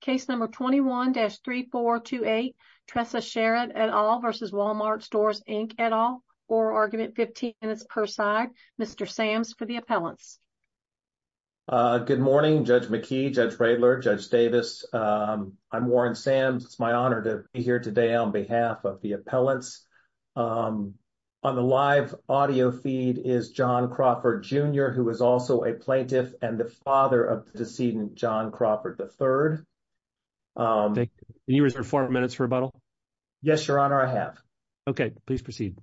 Case number 21-3428, Tressa Sherrod et al. v. Wal-Mart Stores Inc et al. Or argument 15 minutes per side. Mr. Sams for the appellants. Good morning Judge McKee, Judge Radler, Judge Davis. I'm Warren Sams. It's my honor to be here today on behalf of the appellants. On the live audio feed is John Crawford Jr. who is also a plaintiff and the father of the third. Can you reserve four minutes for rebuttal? Yes, your honor, I have. Okay, please proceed.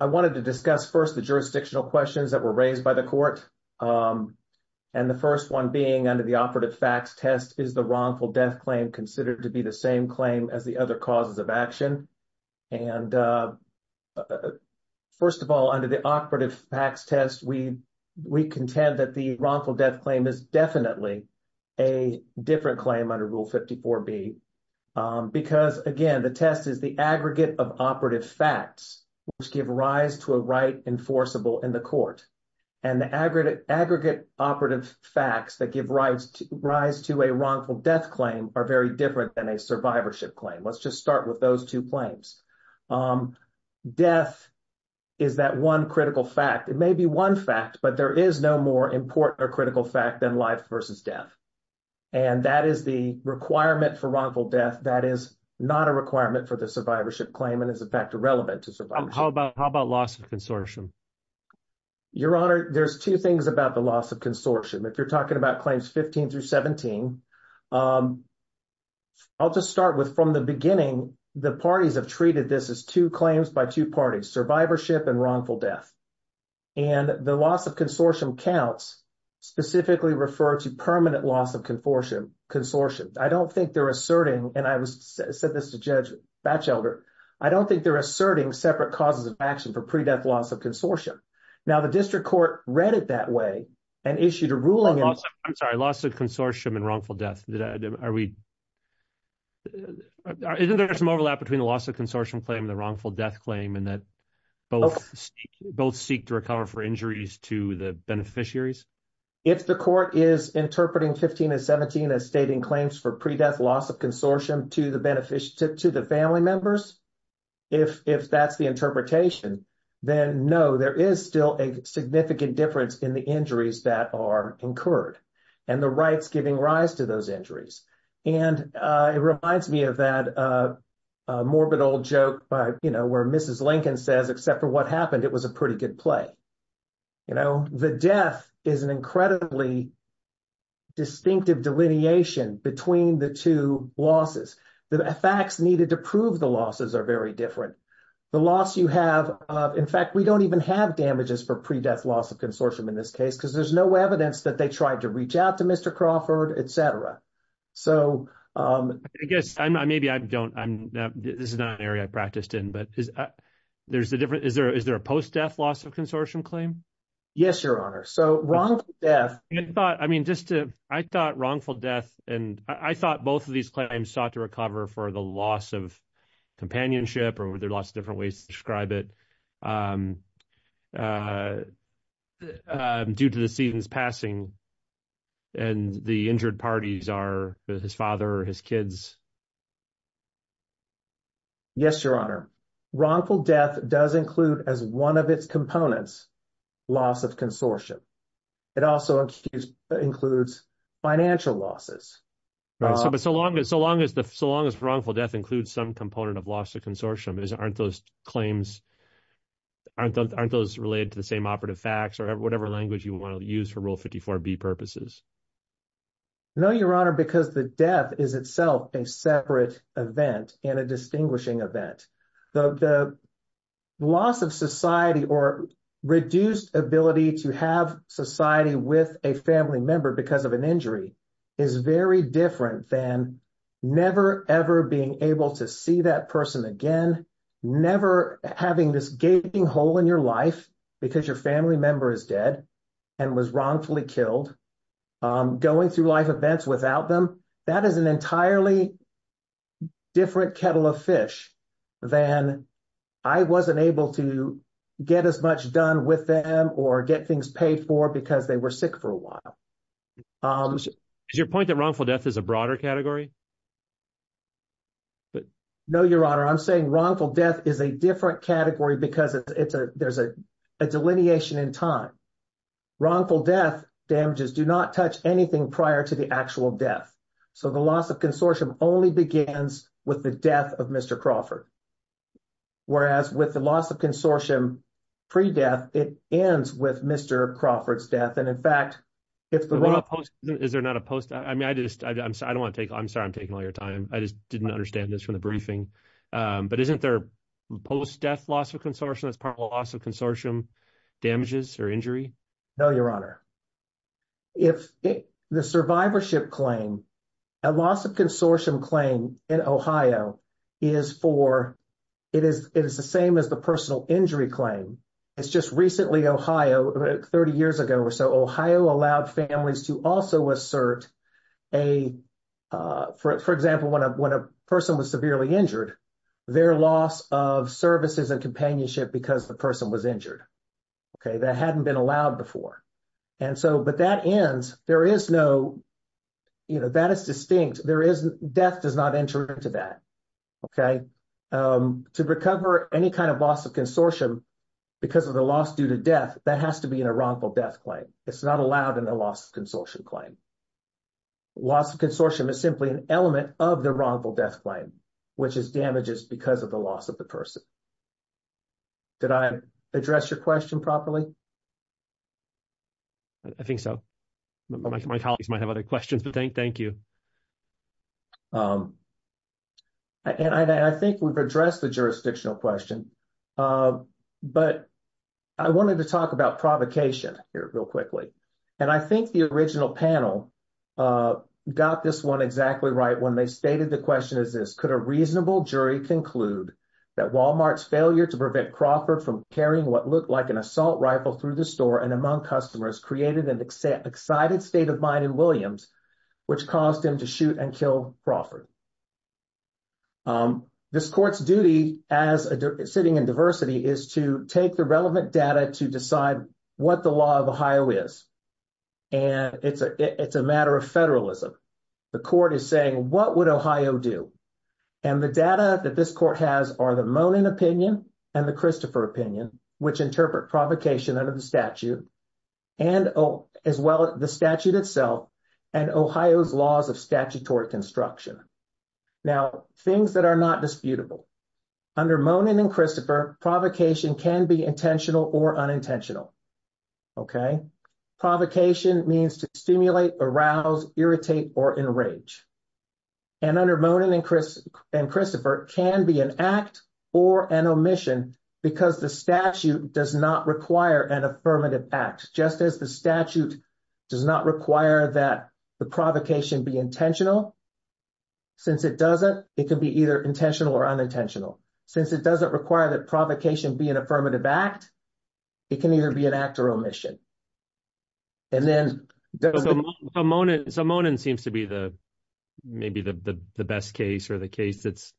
I wanted to discuss first the jurisdictional questions that were raised by the court. And the first one being under the operative facts test, is the wrongful death claim considered to be the same claim as the other causes of action? And first of all, under the operative facts test, we contend that the wrongful death claim is definitely a different claim under Rule 54B. Because again, the test is the aggregate of operative facts which give rise to a right enforceable in the court. And the aggregate operative facts that give rise to a wrongful death claim are very different than a survivorship claim. Let's just start with those two claims. Death is that one critical fact. It may be one fact, but there is no more important or critical fact than life versus death. And that is the requirement for wrongful death. That is not a requirement for the survivorship claim and is in fact irrelevant to survivorship. How about loss of consortium? Your honor, there's two things about the loss of consortium. If you're talking about claims 15 through 17, I'll just start with from the beginning, the parties have treated this as two claims by two parties, survivorship and wrongful death. And the loss of consortium counts specifically refer to permanent loss of consortium. I don't think they're asserting, and I said this to Judge Batchelder, I don't think they're asserting separate causes of action for pre-death loss of consortium. Now the district court read it that way and issued a ruling. I'm sorry, loss of consortium and wrongful death. Isn't there some overlap between the loss of consortium claim and the wrongful death claim in that both seek to recover for injuries to the beneficiaries? If the court is interpreting 15 and 17 as stating claims for pre-death loss of consortium to the family members, if that's the interpretation, then no, there is still a significant difference in the injuries that are incurred and the rights giving rise to those injuries. And it reminds me of that morbid old joke where Mrs. Lincoln says, except for what happened, it was a pretty good play. The death is an incredibly distinctive delineation between the two losses. The facts needed to prove the losses are very different. The loss you have, in fact, we don't even have damages for pre-death loss of consortium in this case because there's no evidence that they tried to reach out to Mr. Crawford, et cetera. I guess, maybe I don't, this is not an area I practiced in, but is there a post-death loss of consortium claim? Yes, Your Honor. So wrongful death. I thought wrongful death, and I thought both of these sought to recover for the loss of companionship or were there lots of different ways to describe it due to the season's passing and the injured parties are his father or his kids. Yes, Your Honor. Wrongful death does include as one of its components loss of consortium. It also includes financial losses. So long as wrongful death includes some component of loss of consortium, aren't those claims, aren't those related to the same operative facts or whatever language you want to use for Rule 54B purposes? No, Your Honor, because the death is itself a separate event and a distinguishing event. The loss of society or reduced ability to have society with a family member because of an injury is very different than never ever being able to see that person again, never having this gaping hole in your life because your family member is dead and was wrongfully killed, going through life events without them. That is an entirely different kettle of fish than I wasn't able to get as much done with them or get things paid for because they were sick for a while. Is your point that wrongful death is a broader category? No, Your Honor. I'm saying wrongful death is a different category because there's a delineation in time. Wrongful death damages do not touch anything prior to the actual death. So the loss of consortium only begins with the death of Mr. Crawford, whereas with the loss of consortium pre-death, it ends with Mr. Crawford's death. And in fact, is there not a post? I mean, I just, I don't want to take, I'm sorry, I'm taking all your time. I just didn't understand this from the briefing. But isn't there a post-death loss of consortium loss of consortium damages or injury? No, Your Honor. If the survivorship claim, a loss of consortium claim in Ohio is for, it is the same as the personal injury claim. It's just recently, Ohio, 30 years ago or so, Ohio allowed families to also assert a, for example, when a person was severely injured, their loss of services and companionship because the person was injured. Okay. That hadn't been allowed before. And so, but that ends, there is no, you know, that is distinct. There isn't, death does not enter into that. Okay. To recover any kind of loss of consortium because of the loss due to death, that has to be in a wrongful death claim. It's not allowed in the loss of consortium claim. Loss of consortium is simply an element of the wrongful death claim, which is damages because of the loss of the person. Did I address your question properly? I think so. My colleagues might have other questions, but thank you. And I think we've addressed the jurisdictional question, but I wanted to talk about provocation here real quickly. And I think the original panel got this one exactly right when they stated the question is this, could a reasonable jury conclude that Walmart's failure to prevent Crawford from carrying what looked like an assault rifle through the store and among customers created an excited state of mind in Williams, which caused him to shoot and kill Crawford. This court's duty as sitting in diversity is to take the relevant data to decide what the law of Ohio is. And it's a matter of federalism. The court is saying, what would Ohio do? And the data that this court has are the Monin opinion and the Christopher opinion, which interpret provocation under the statute, as well as the statute itself and Ohio's laws of statutory construction. Now, things that are not disputable. Under Monin and Christopher, provocation can be intentional or unintentional. Okay? Provocation means to stimulate, arouse, irritate, or enrage. And under Monin and Christopher can be an act or an omission because the statute does not require an affirmative act. Just as the statute does not require that the provocation be intentional, since it doesn't, it can be either intentional or unintentional. Since it doesn't require that provocation be an affirmative act, it can either be an act or omission. And then. So Monin seems to be the, maybe the best case or the case that's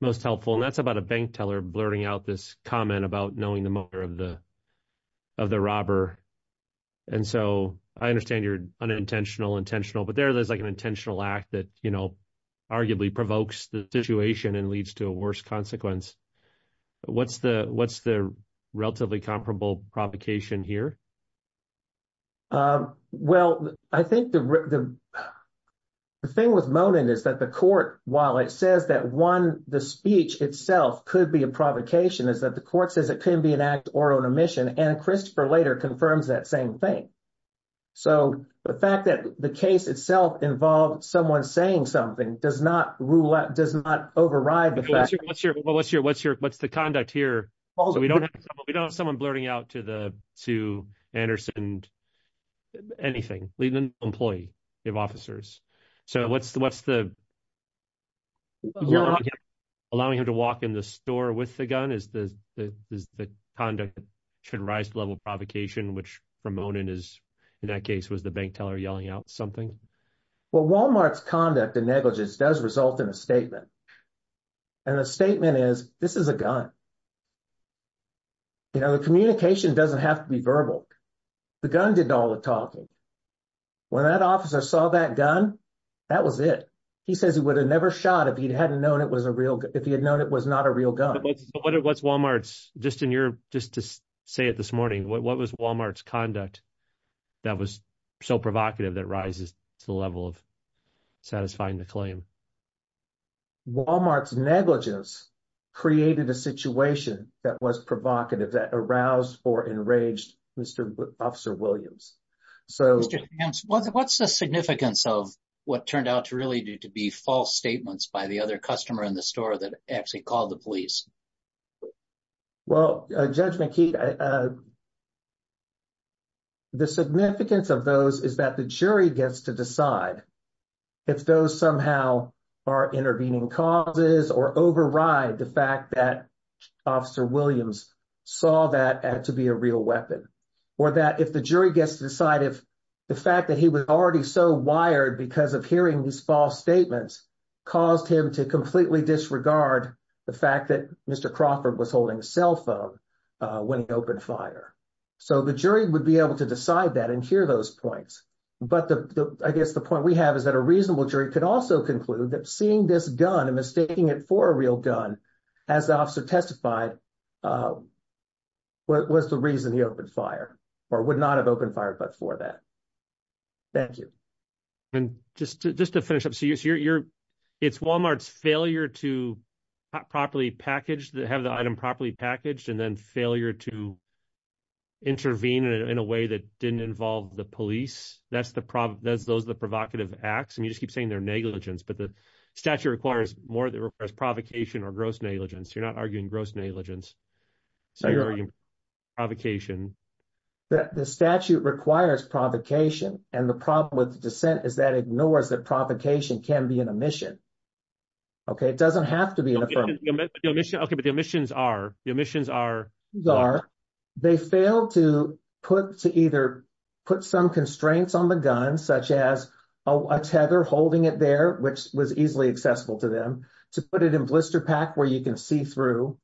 most helpful. And that's about a bank teller blurting out this comment about knowing the motor of the, of the robber. And so I understand you're unintentional, intentional, but there's like an intentional act that, you know, arguably provokes the situation and leads to a worse consequence. What's the, relatively comparable provocation here? Well, I think the, the thing with Monin is that the court, while it says that one, the speech itself could be a provocation is that the court says it can be an act or an omission. And Christopher later confirms that same thing. So the fact that the case itself involved someone saying something does not rule out, does not override the fact. What's your, what's your, what's the conduct here? So we don't have, we don't have someone blurting out to the, to Anderson, anything, leave an employee, give officers. So what's the, what's the. Allowing him to walk in the store with the gun is the, is the conduct should rise to level provocation, which from Monin is in that case was the bank teller yelling out something. Well, Walmart's conduct and negligence does result in a statement. And the statement is, this is a gun. You know, the communication doesn't have to be verbal. The gun did all the talking. When that officer saw that gun, that was it. He says he would have never shot if he hadn't known it was a real, if he had known it was not a real gun. What's Walmart's just in your, just to say it this morning, what was Walmart's conduct that was so provocative that rises? The level of satisfying the claim Walmart's negligence created a situation that was provocative that aroused or enraged Mr. Officer Williams. So what's the significance of what turned out to really do to be false statements by the other customer in the store that actually called the police? Well, Judge McKeith, the significance of those is that the jury gets to decide if those somehow are intervening causes or override the fact that Officer Williams saw that to be a real weapon. Or that if the jury gets to decide if the fact that he was already so wired because of hearing these false statements caused him to completely disregard the fact that Mr. Crawford was holding a cell phone when he opened fire. So the jury would be able to decide that and hear those points. But I guess the point we have is that a reasonable jury could also conclude that seeing this gun and mistaking it for a real gun, as the officer testified, was the reason he opened fire or would not have opened fire but for that. Thank you. And just to finish up, it's Walmart's failure to have the item properly packaged and then failure to intervene in a way that didn't involve the police. Those are the provocative acts. And you just keep saying they're negligence. But the statute requires more than just provocation or gross negligence. You're not arguing gross negligence. So you're arguing provocation. The statute requires provocation. And the problem with dissent is that ignores that provocation can be an omission. It doesn't have to be an omission. But the omissions are. They failed to either put some constraints on the gun, such as a tether holding it there, which was easily accessible to them, to put it in blister pack where you can see through,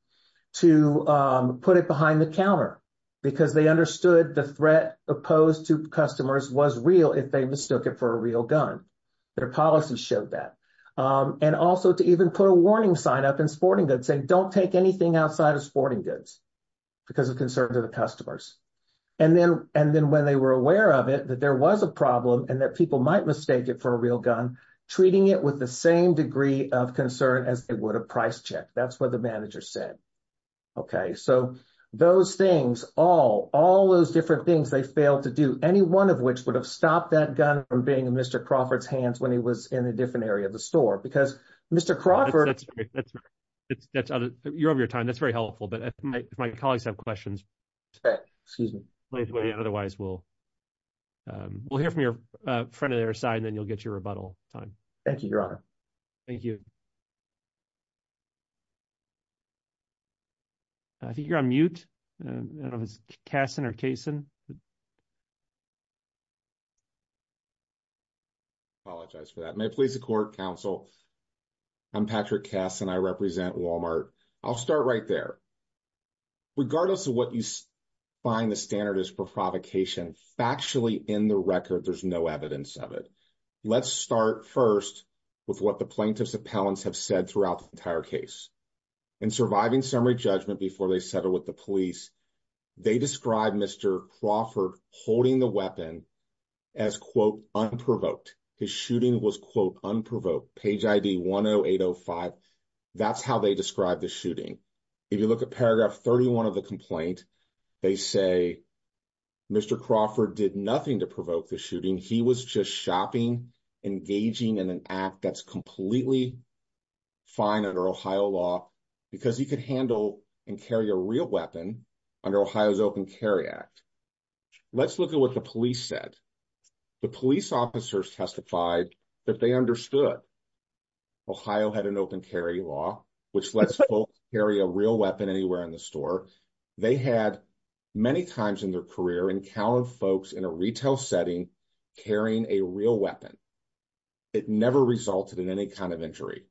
to put it behind the counter because they understood the threat opposed to customers was real if they mistook it for a real gun. Their policy showed that. And also to even put a warning sign up in sporting goods saying don't take anything outside of sporting goods because of concern to the customers. And then when they were aware of it, that there was a problem and that people might mistake it for a real gun, treating it with the same degree of concern as it would a price check. That's what the manager said. OK, so those things, all all those different things they failed to do, any one of which would have stopped that gun from being in Mr. Crawford's hands when he was in a different area of the store, because Mr. Crawford, that's that's you're over your time. That's very helpful. But if my colleagues have questions, excuse me, otherwise we'll we'll hear from your friend on their side and then you'll get your rebuttal time. Thank you, Your Honor. Thank you. I think you're on mute, I don't know if it's Kasson or Kaysen. Apologize for that. May it please the court, counsel. I'm Patrick Kass and I represent Walmart. I'll start right there. Regardless of what you find the standard is for provocation, factually in the record, there's no evidence of it. Let's start first with what the plaintiffs appellants have said throughout the entire case. In surviving summary judgment before they settled with the police, they described Mr. Crawford holding the weapon as, quote, unprovoked. His shooting was, quote, unprovoked. Page ID one oh eight oh five. That's how they described the If you look at paragraph thirty one of the complaint, they say Mr. Crawford did nothing to provoke the shooting. He was just shopping, engaging in an act that's completely fine under Ohio law because he could handle and carry a real weapon under Ohio's Open Carry Act. Let's look at what the police said. The police officers testified that they understood Ohio had an open carry law, which lets folks carry a real weapon anywhere in the store. They had many times in their career encountered folks in a retail setting carrying a real weapon. It never resulted in any kind of injury.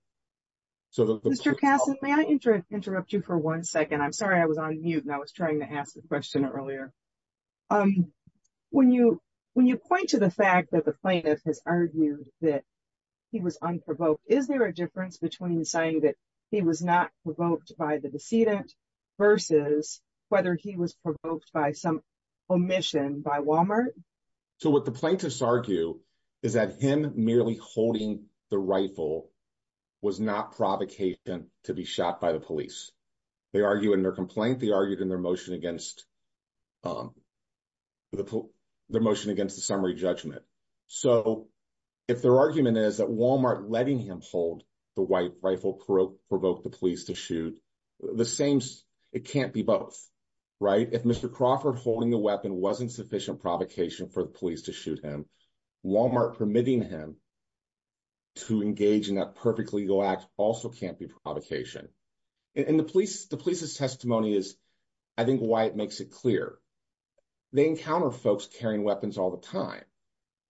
So, Mr. Kassen, may I interrupt you for one second? I'm sorry I was on mute and I was trying to ask the question earlier. When you when you point to the fact that the plaintiff has argued that he was unprovoked, is there a difference between saying that he was not provoked by the decedent versus whether he was provoked by some omission by Walmart? So what the plaintiffs argue is that him merely holding the rifle was not provocation to be shot by the police. They argue in their complaint. They argued in their motion against the motion against the summary judgment. So if their argument is that Walmart letting him hold the white rifle provoked the police to shoot, the same, it can't be both, right? If Mr. Crawford holding the weapon wasn't sufficient provocation for the police to shoot him, Walmart permitting him to engage in that perfect legal act also can't be provocation. And the police, the police's testimony is, I think, why it makes it clear. They encounter folks carrying weapons all the time.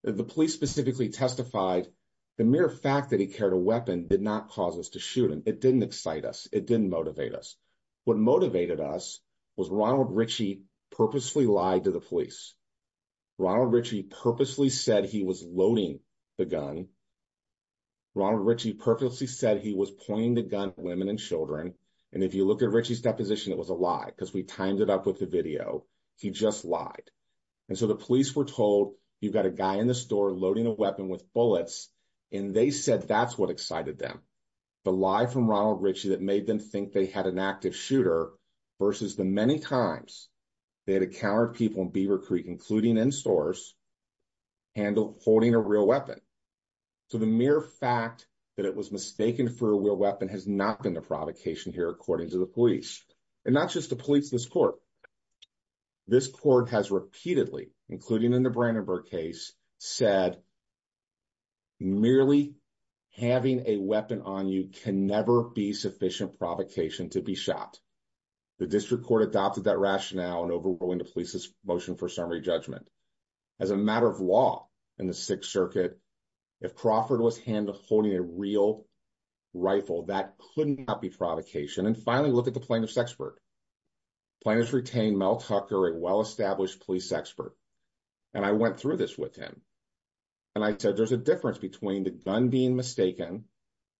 The police specifically testified the mere fact that he carried a weapon did not cause us to shoot him. It didn't excite us. It didn't motivate us. What motivated us was Ronald Ritchie purposely lied to the police. Ronald Ritchie purposely said he was loading the gun. Ronald Ritchie purposely said he was pointing the gun at women and children. And if you look at Ritchie's deposition, it was a lie because we timed it up with the video. He just lied. And so the police were told, you've got a guy in the store loading a weapon with bullets. And they said that's what excited them. The lie from Ronald Ritchie that made them think they had an active shooter versus the many times they had encountered people in Beaver Creek, including in stores, holding a real weapon. So the mere fact that it was mistaken for a real weapon has not been the provocation here, according to the police. And not just the police, this court. This court has repeatedly, including in the Brandenburg case, said merely having a weapon on you can never be sufficient provocation to be shot. The district court adopted that rationale in overruling the police's motion for summary judgment. As a matter of law in the Sixth Circuit, if Crawford was holding a real rifle, that could not be provocation. And finally, look at the plaintiff's expert. Plaintiff's retained Mel Tucker, a well-established police expert. And I went through this with him. And I said, there's a difference between the gun being mistaken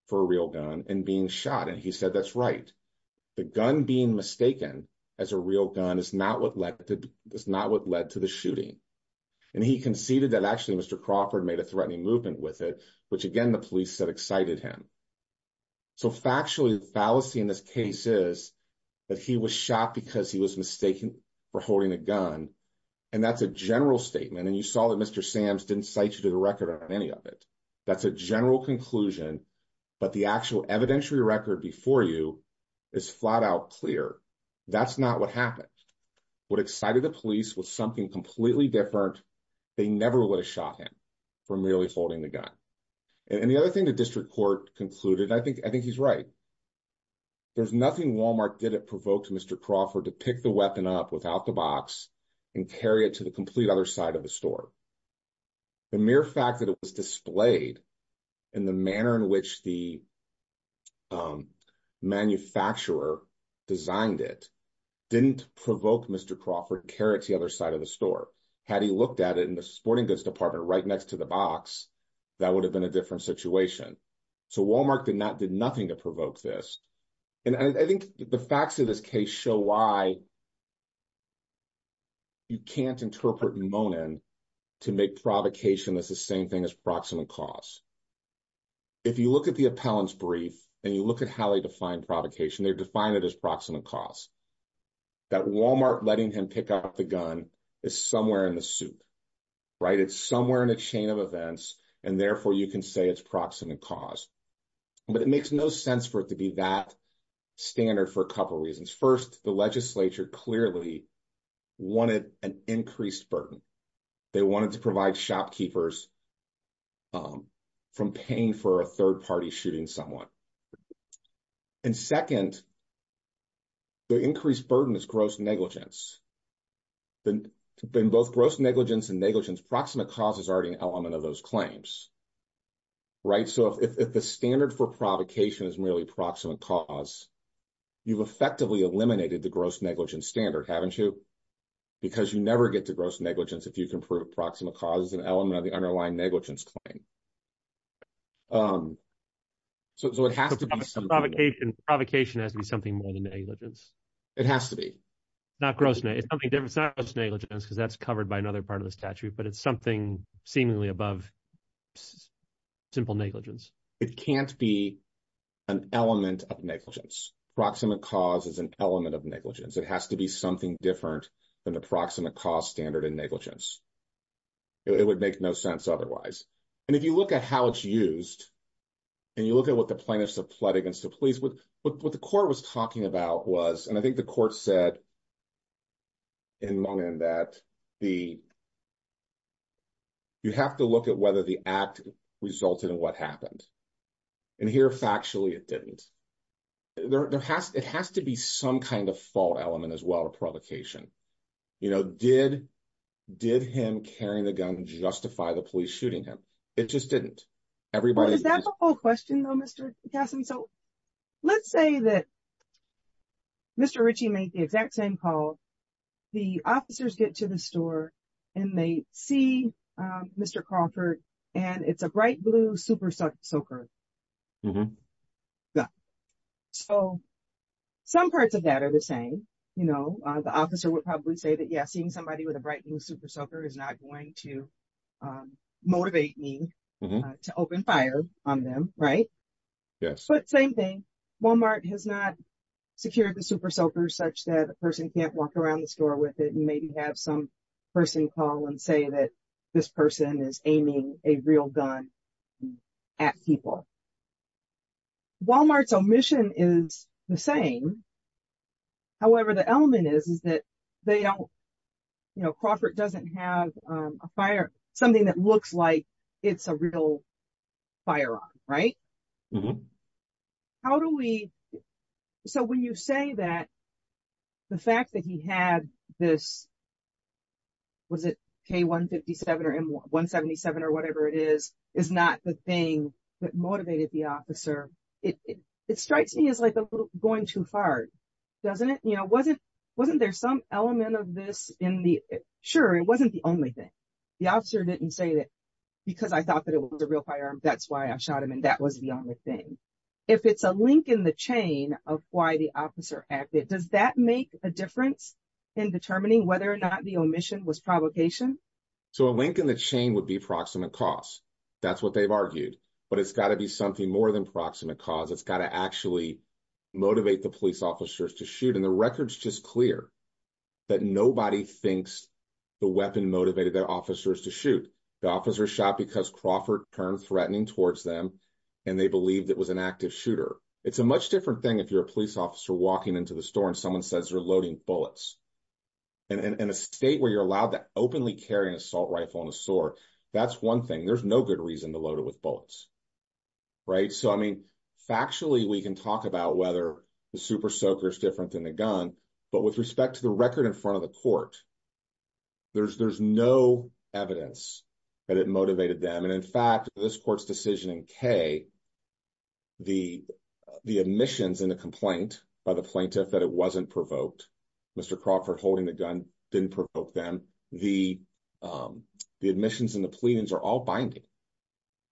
for a real gun and being shot. And he said, that's right. The gun being mistaken as a real gun is not what led to the shooting. And he conceded that actually Mr. Crawford made a threatening movement with it, which again, the police said excited him. So factually, the fallacy in this case is that he was shot because he was mistaken for holding a gun. And that's a general statement. And you saw that Mr. Sams didn't cite you to the record on any of it. That's a general conclusion. But the actual evidentiary record before you is flat out clear. That's not what happened. What excited the police was something completely different. They never would have shot him for merely holding the gun. And the other thing the district court concluded, I think he's right. There's nothing Walmart did that provoked Mr. Crawford to pick the weapon up without the box and carry it to the complete other side of the store. The mere fact that it was displayed in the manner in which the manufacturer designed it, didn't provoke Mr. Crawford to carry it to the other side of the store. Had he looked at it in the sporting goods department right next to the box, that would have been a different situation. So Walmart did nothing to provoke this. And I think the facts of this case show why you can't interpret Monin to make provocation as the same thing as proximate cause. If you look at the appellant's brief and you look at how they define provocation, they define it as proximate cause. That Walmart letting him pick up the gun is somewhere in the soup, right? It's somewhere in a chain of events and therefore you can say it's proximate cause. But it makes no sense for it to be that standard for a couple of reasons. First, the legislature clearly wanted an increased burden. They wanted to provide shopkeepers from paying for a third-party shooting someone. And second, the increased burden is gross negligence. In both gross negligence and negligence, proximate cause is already an element of those claims, right? So if the standard for provocation is merely proximate cause, you've effectively eliminated the gross negligence standard, haven't you? Because you never get to gross negligence if you can prove proximate cause is an element of the underlying negligence claim. So it has to be something... Provocation has to be something more than negligence. It has to be. Not gross negligence, because that's covered by another part of the statute, but it's something seemingly above simple negligence. It can't be an element of negligence. Proximate cause is an element of negligence. It has to be something different than the proximate cause standard in negligence. It would make no sense otherwise. And if you look at how it's used, and you look at what the plaintiffs have pled against the police, what the court was talking about was, and I think the court said in Mungin that you have to look at whether the act resulted in what happened. And here, factually, it didn't. It has to be some kind of fault element as well, a provocation. Did him carrying the gun justify the police shooting him? It just didn't. Is that the whole question, though, Mr. Cassidy? So let's say that Mr. Ritchie made the exact same call. The officers get to the store, and they see Mr. Crawford, and it's a bright blue super soaker. So some parts of that are the same. The officer would probably say that, yeah, seeing somebody with a bright blue super soaker is not going to motivate me to open fire on them, right? But same thing. Walmart has not secured the super soaker such that a person can't walk around the store with it and maybe have some person call and that this person is aiming a real gun at people. Walmart's omission is the same. However, the element is that Crawford doesn't have something that looks like it's a real firearm, right? So when you say that the fact that he had this, was it K-157 or M-177 or whatever it is, is not the thing that motivated the officer, it strikes me as like going too far, doesn't it? You know, wasn't there some element of this in the... Sure, it wasn't the only thing. The officer didn't say that because I thought that it was a real firearm, that's why I shot him, and that was the only thing. If it's a link in the was provocation? So a link in the chain would be proximate cause, that's what they've argued. But it's got to be something more than proximate cause, it's got to actually motivate the police officers to shoot. And the record's just clear that nobody thinks the weapon motivated their officers to shoot. The officer shot because Crawford turned threatening towards them and they believed it was an active shooter. It's a much different thing if you're a police officer walking into the store and someone says they're loading bullets. And in a state where you're allowed to openly carry an assault rifle and a sword, that's one thing, there's no good reason to load it with bullets, right? So I mean, factually, we can talk about whether the super soaker is different than the gun, but with respect to the record in front of the court, there's no evidence that it motivated them. In fact, this court's decision in K, the admissions and the complaint by the plaintiff that it wasn't provoked, Mr. Crawford holding the gun, didn't provoke them, the admissions and the pleadings are all binding.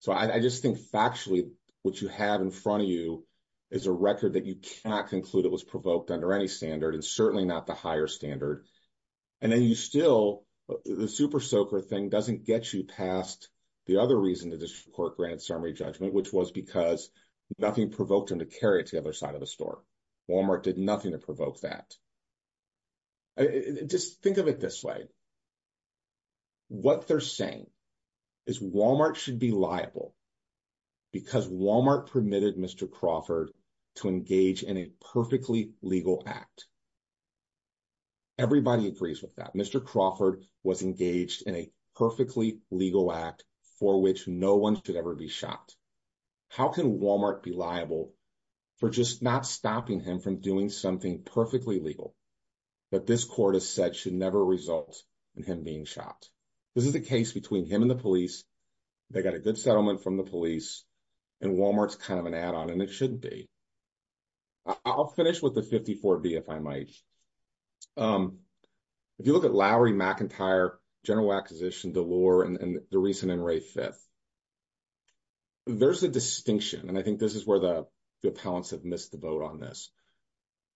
So I just think factually, what you have in front of you is a record that you cannot conclude it was provoked under any standard and certainly not higher standard. And then you still, the super soaker thing doesn't get you past the other reason the district court granted summary judgment, which was because nothing provoked him to carry it to the other side of the store. Walmart did nothing to provoke that. Just think of it this way. What they're saying is Walmart should be liable because Walmart permitted Mr. Crawford to engage in a perfectly legal act. Everybody agrees with that. Mr. Crawford was engaged in a perfectly legal act for which no one should ever be shot. How can Walmart be liable for just not stopping him from doing something perfectly legal that this court has said should never result in him being shot? This is a case between him and the police. They got a good settlement from the police and Walmart's kind of an add-on and it shouldn't be. I'll finish with the 54B if I might. If you look at Lowry, McIntyre, General Acquisition, DeLore, and the recent NRA Fifth, there's a distinction. And I think this is where the appellants have missed the boat on this.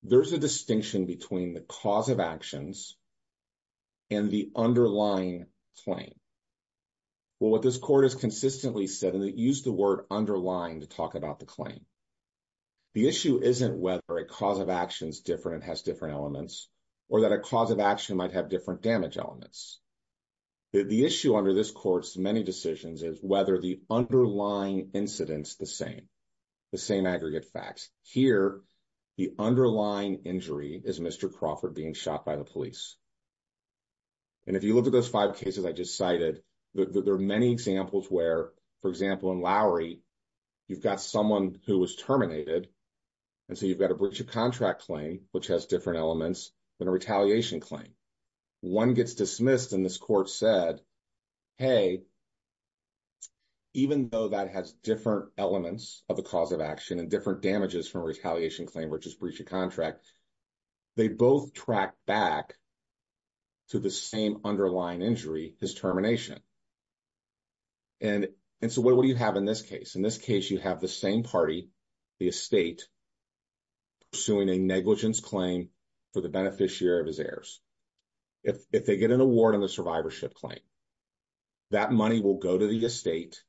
There's a distinction between the cause of actions and the underlying claim. Well, what this court has consistently said, and they use the word underlying to talk about the claim, the issue isn't whether a cause of action is different and has different elements or that a cause of action might have different damage elements. The issue under this court's many decisions is whether the underlying incident's the same, the same aggregate facts. Here, the underlying injury is Mr. Crawford being shot by the police. And if you look at those five cases I just cited, there are many examples where, for example, in Lowry, you've got someone who was terminated and so you've got a breach of contract claim, which has different elements than a retaliation claim. One gets dismissed and this court said, hey, even though that has different elements of the cause of action and different damages from retaliation claim, which is breach of contract, they both track back to the same underlying injury, his termination. And so what do you have in this case? In this case, you have the same party, the estate, pursuing a negligence claim for the beneficiary of his heirs. If they get an award on the survivorship claim, that money will go to the estate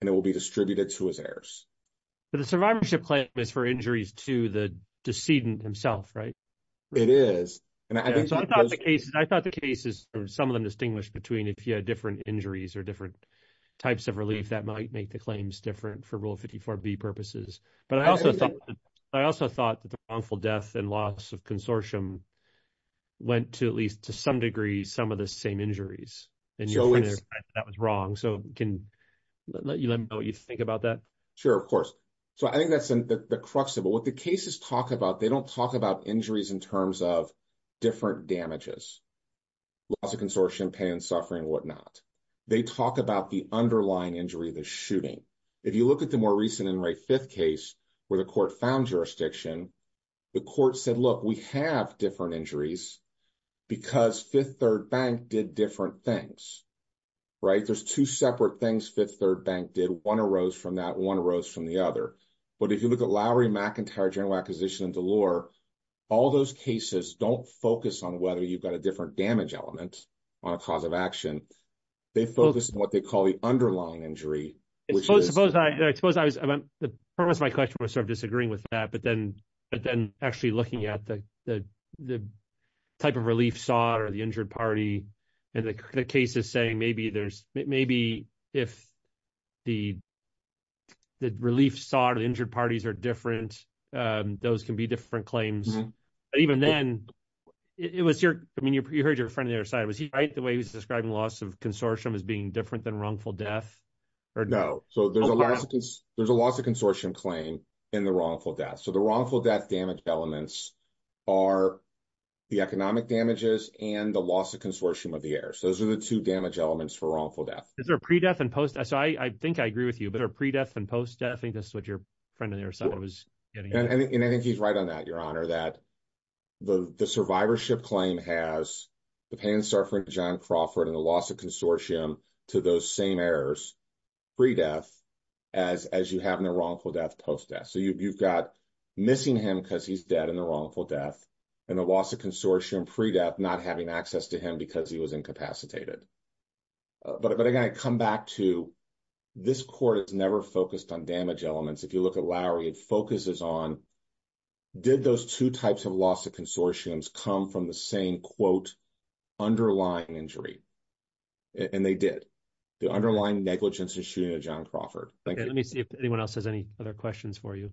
and it will be distributed to his heirs. But the survivorship claim is for injuries to the decedent himself, right? It is. I thought the cases, some of them distinguished between if you had different injuries or different types of relief that might make the claims different for Rule 54B purposes. But I also thought that the wrongful death and loss of consortium went to at least to some degree some of the same injuries. And you're trying to say that was wrong. So can you let me know what you think about that? Sure, of course. So I think that's the crux of it. What the cases talk about, they don't talk about injuries in terms of different damages, loss of consortium, pain and suffering and whatnot. They talk about the underlying injury, the shooting. If you look at the more recent Inmate Fifth case where the court found jurisdiction, the court said, look, we have different injuries because Fifth Third Bank did different things, right? There's two separate things Fifth Third Bank did. One arose from that, one arose from the other. But if you look at Lowry, McIntyre, General Acquisition and DeLore, all those cases don't focus on whether you've got a different damage element on a cause of action. They focus on what they call the underlying injury, which is- Suppose I was, the premise of my question was sort of disagreeing with that, but then actually looking at the type of relief sought or the injured party and the case is saying maybe if the relief sought or the injured parties are different, those can be different claims. Even then, it was your, I mean, you heard your friend on the other side, was he right, the way he was describing loss of consortium as being different than wrongful death? No. So there's a loss of consortium claim in the wrongful death. So the wrongful death damage elements are the economic damages and the loss of consortium of the errors. Those are the two damage elements for wrongful death. Is there a pre-death and post-death? So I think I agree with you, but are pre-death and post-death, I think that's what your friend on the other side was getting at. And I think he's right on that, Your Honor, that the survivorship claim has the pain and suffering of John Crawford and the loss of consortium to those same errors, pre-death, as you have in the wrongful death, post-death. So you've got missing him because he's dead in the wrongful death and the loss of consortium pre-death, not having access to him because he was incapacitated. But again, I come back to this court, it's never focused on damage elements. If you look at Lowry, it focuses on, did those two types of loss of consortiums come from the same quote underlying injury? And they did. The underlying negligence and shooting of John Crawford. Let me see if anyone else has any other questions for you.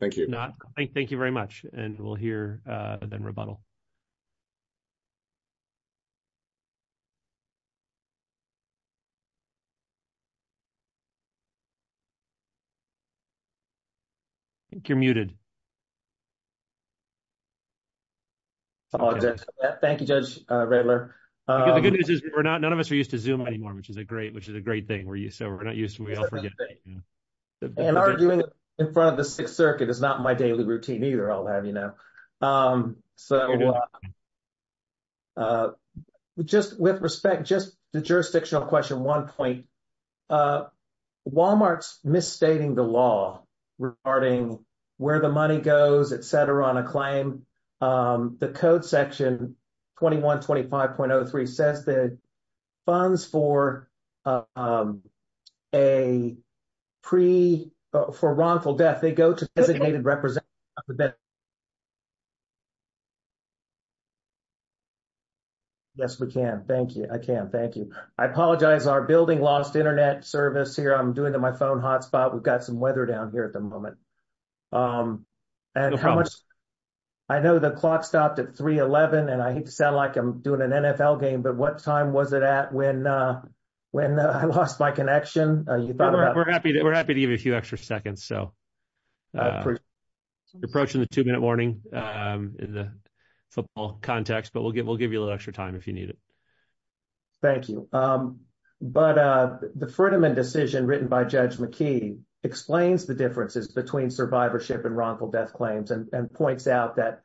Thank you. Thank you very much. And we'll hear then rebuttal. I think you're muted. I apologize for that. Thank you, Judge Redler. The good news is none of us are used to Zoom anymore, which is a great thing. So we're not used to it. And arguing in front of the Sixth Circuit is not my daily routine either, I'll have you know. So just with respect, just the jurisdictional question, one point. Walmart's misstating the law regarding where the money goes, et cetera, on a claim. The code section 2125.03 says that funds for a pre, for wrongful death, they go to designated representatives. Yes, we can. Thank you. I can. Thank you. I apologize, our building lost internet service here. I'm doing it in my phone hotspot. We've got some weather down here at the moment. And how much, I know the clock stopped at 311 and I hate to sound like I'm doing an NFL game, but what time was it at when I lost my connection? We're happy to give you a few extra seconds. So you're approaching the two minute warning in the football context, but we'll give you a little extra time if you need it. Thank you. But the Ferdinand decision written by Judge McKee explains the differences between survivorship and wrongful death claims and points out that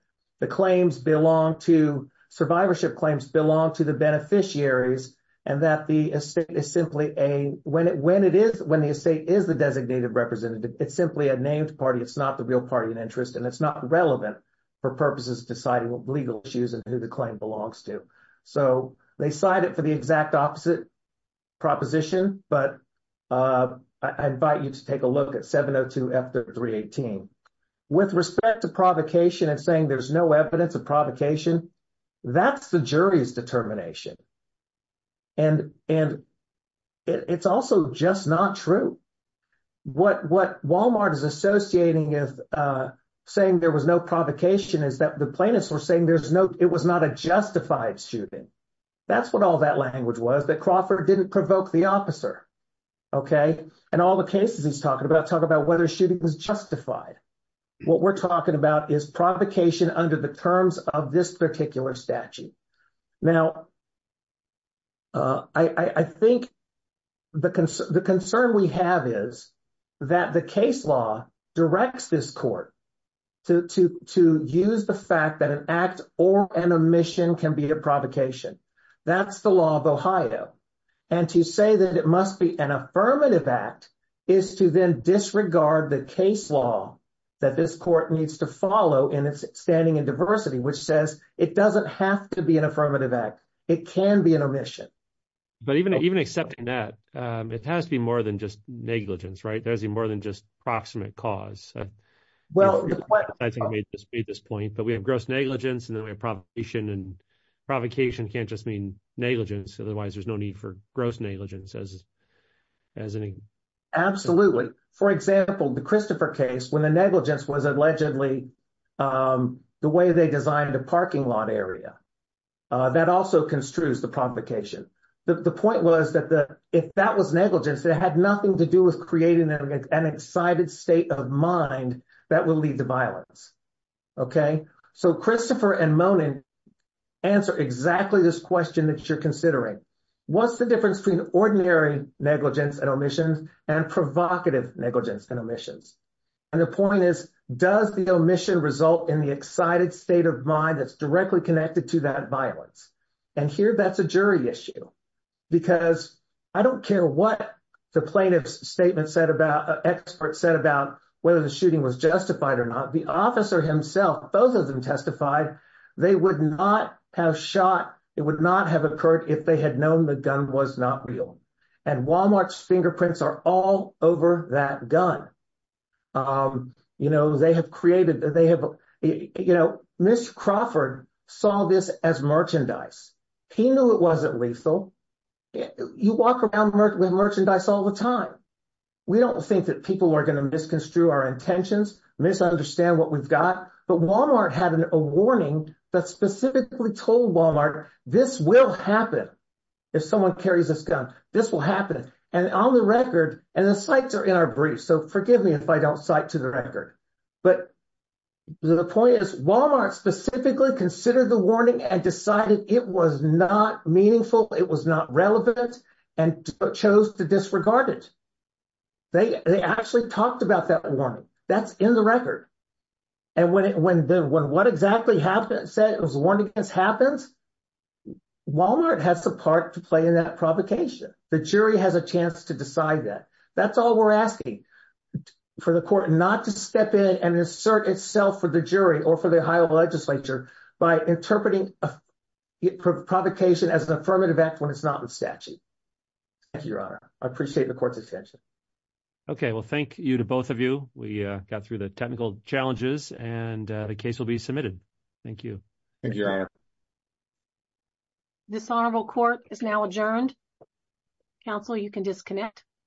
survivorship claims belong to the beneficiaries and that the estate is simply a, when the estate is the designated representative, it's simply a named party. It's not the real party in interest and it's not relevant for purposes of deciding legal issues and who the claim belongs to. So they cite it for the exact opposite proposition, but I invite you to take a look at 702 F0318. With respect to provocation and saying there's no evidence of provocation, that's the jury's determination. And it's also just not true. What Walmart is associating with saying there was no provocation is that the plaintiffs were saying there's no, it was not a justified shooting. That's what all that language was, that Crawford didn't provoke the officer. And all the cases he's talking about talk about whether shooting was justified. What we're talking about is provocation under the terms of this particular statute. Now, I think the concern we have is that the case law directs this court to use the fact that an act or an omission can be a provocation. That's the law of Ohio. And to say that it must be an affirmative act is to then disregard the case law that this court needs to follow in its standing in diversity, which says it doesn't have to be an affirmative act. It can be an omission. But even accepting that, it has to be more than just negligence, right? There has to be more than just proximate cause. I think we just made this point, but we have gross negligence and then we have provocation. And provocation can't just mean negligence, otherwise there's no need for gross negligence. Absolutely. For example, the Christopher case, when the negligence was allegedly the way they designed a parking lot area, that also construes the provocation. The point was that if that was negligence, it had nothing to do with creating an excited state of mind that will lead to violence. Okay? So Christopher and Monin answer exactly this question that you're considering. What's the difference between ordinary negligence and omissions and provocative negligence and omissions? And the point is, does the omission result in the state of mind that's directly connected to that violence? And here, that's a jury issue. Because I don't care what the plaintiff's statement said about, expert said about, whether the shooting was justified or not. The officer himself, both of them testified, they would not have shot, it would not have occurred if they had known the gun was not real. And Walmart's fingerprints are all over that gun. You know, they have created, they have, you know, Mr. Crawford saw this as merchandise. He knew it wasn't lethal. You walk around with merchandise all the time. We don't think that people are going to misconstrue our intentions, misunderstand what we've got. But Walmart had a warning that specifically told Walmart, this will happen if someone carries this gun. This will happen. And on the record, and the cites are in our brief, so forgive me if I don't cite to the record. But the point is, Walmart specifically considered the warning and decided it was not meaningful, it was not relevant, and chose to disregard it. They actually talked about that warning. That's in the record. And when what exactly happened, it was warned against happens, Walmart has the part to play in that provocation. The jury has a chance to decide that. That's all we're asking for the court not to step in and insert itself for the jury or for the Ohio legislature by interpreting a provocation as an affirmative act when it's not in statute. Thank you, Your Honor. I appreciate the court's attention. Okay, well, thank you to both of you. We got through the technical challenges and the case will be submitted. Thank you. Thank you, Your Honor. Dishonorable court is now adjourned. Counsel, you can disconnect.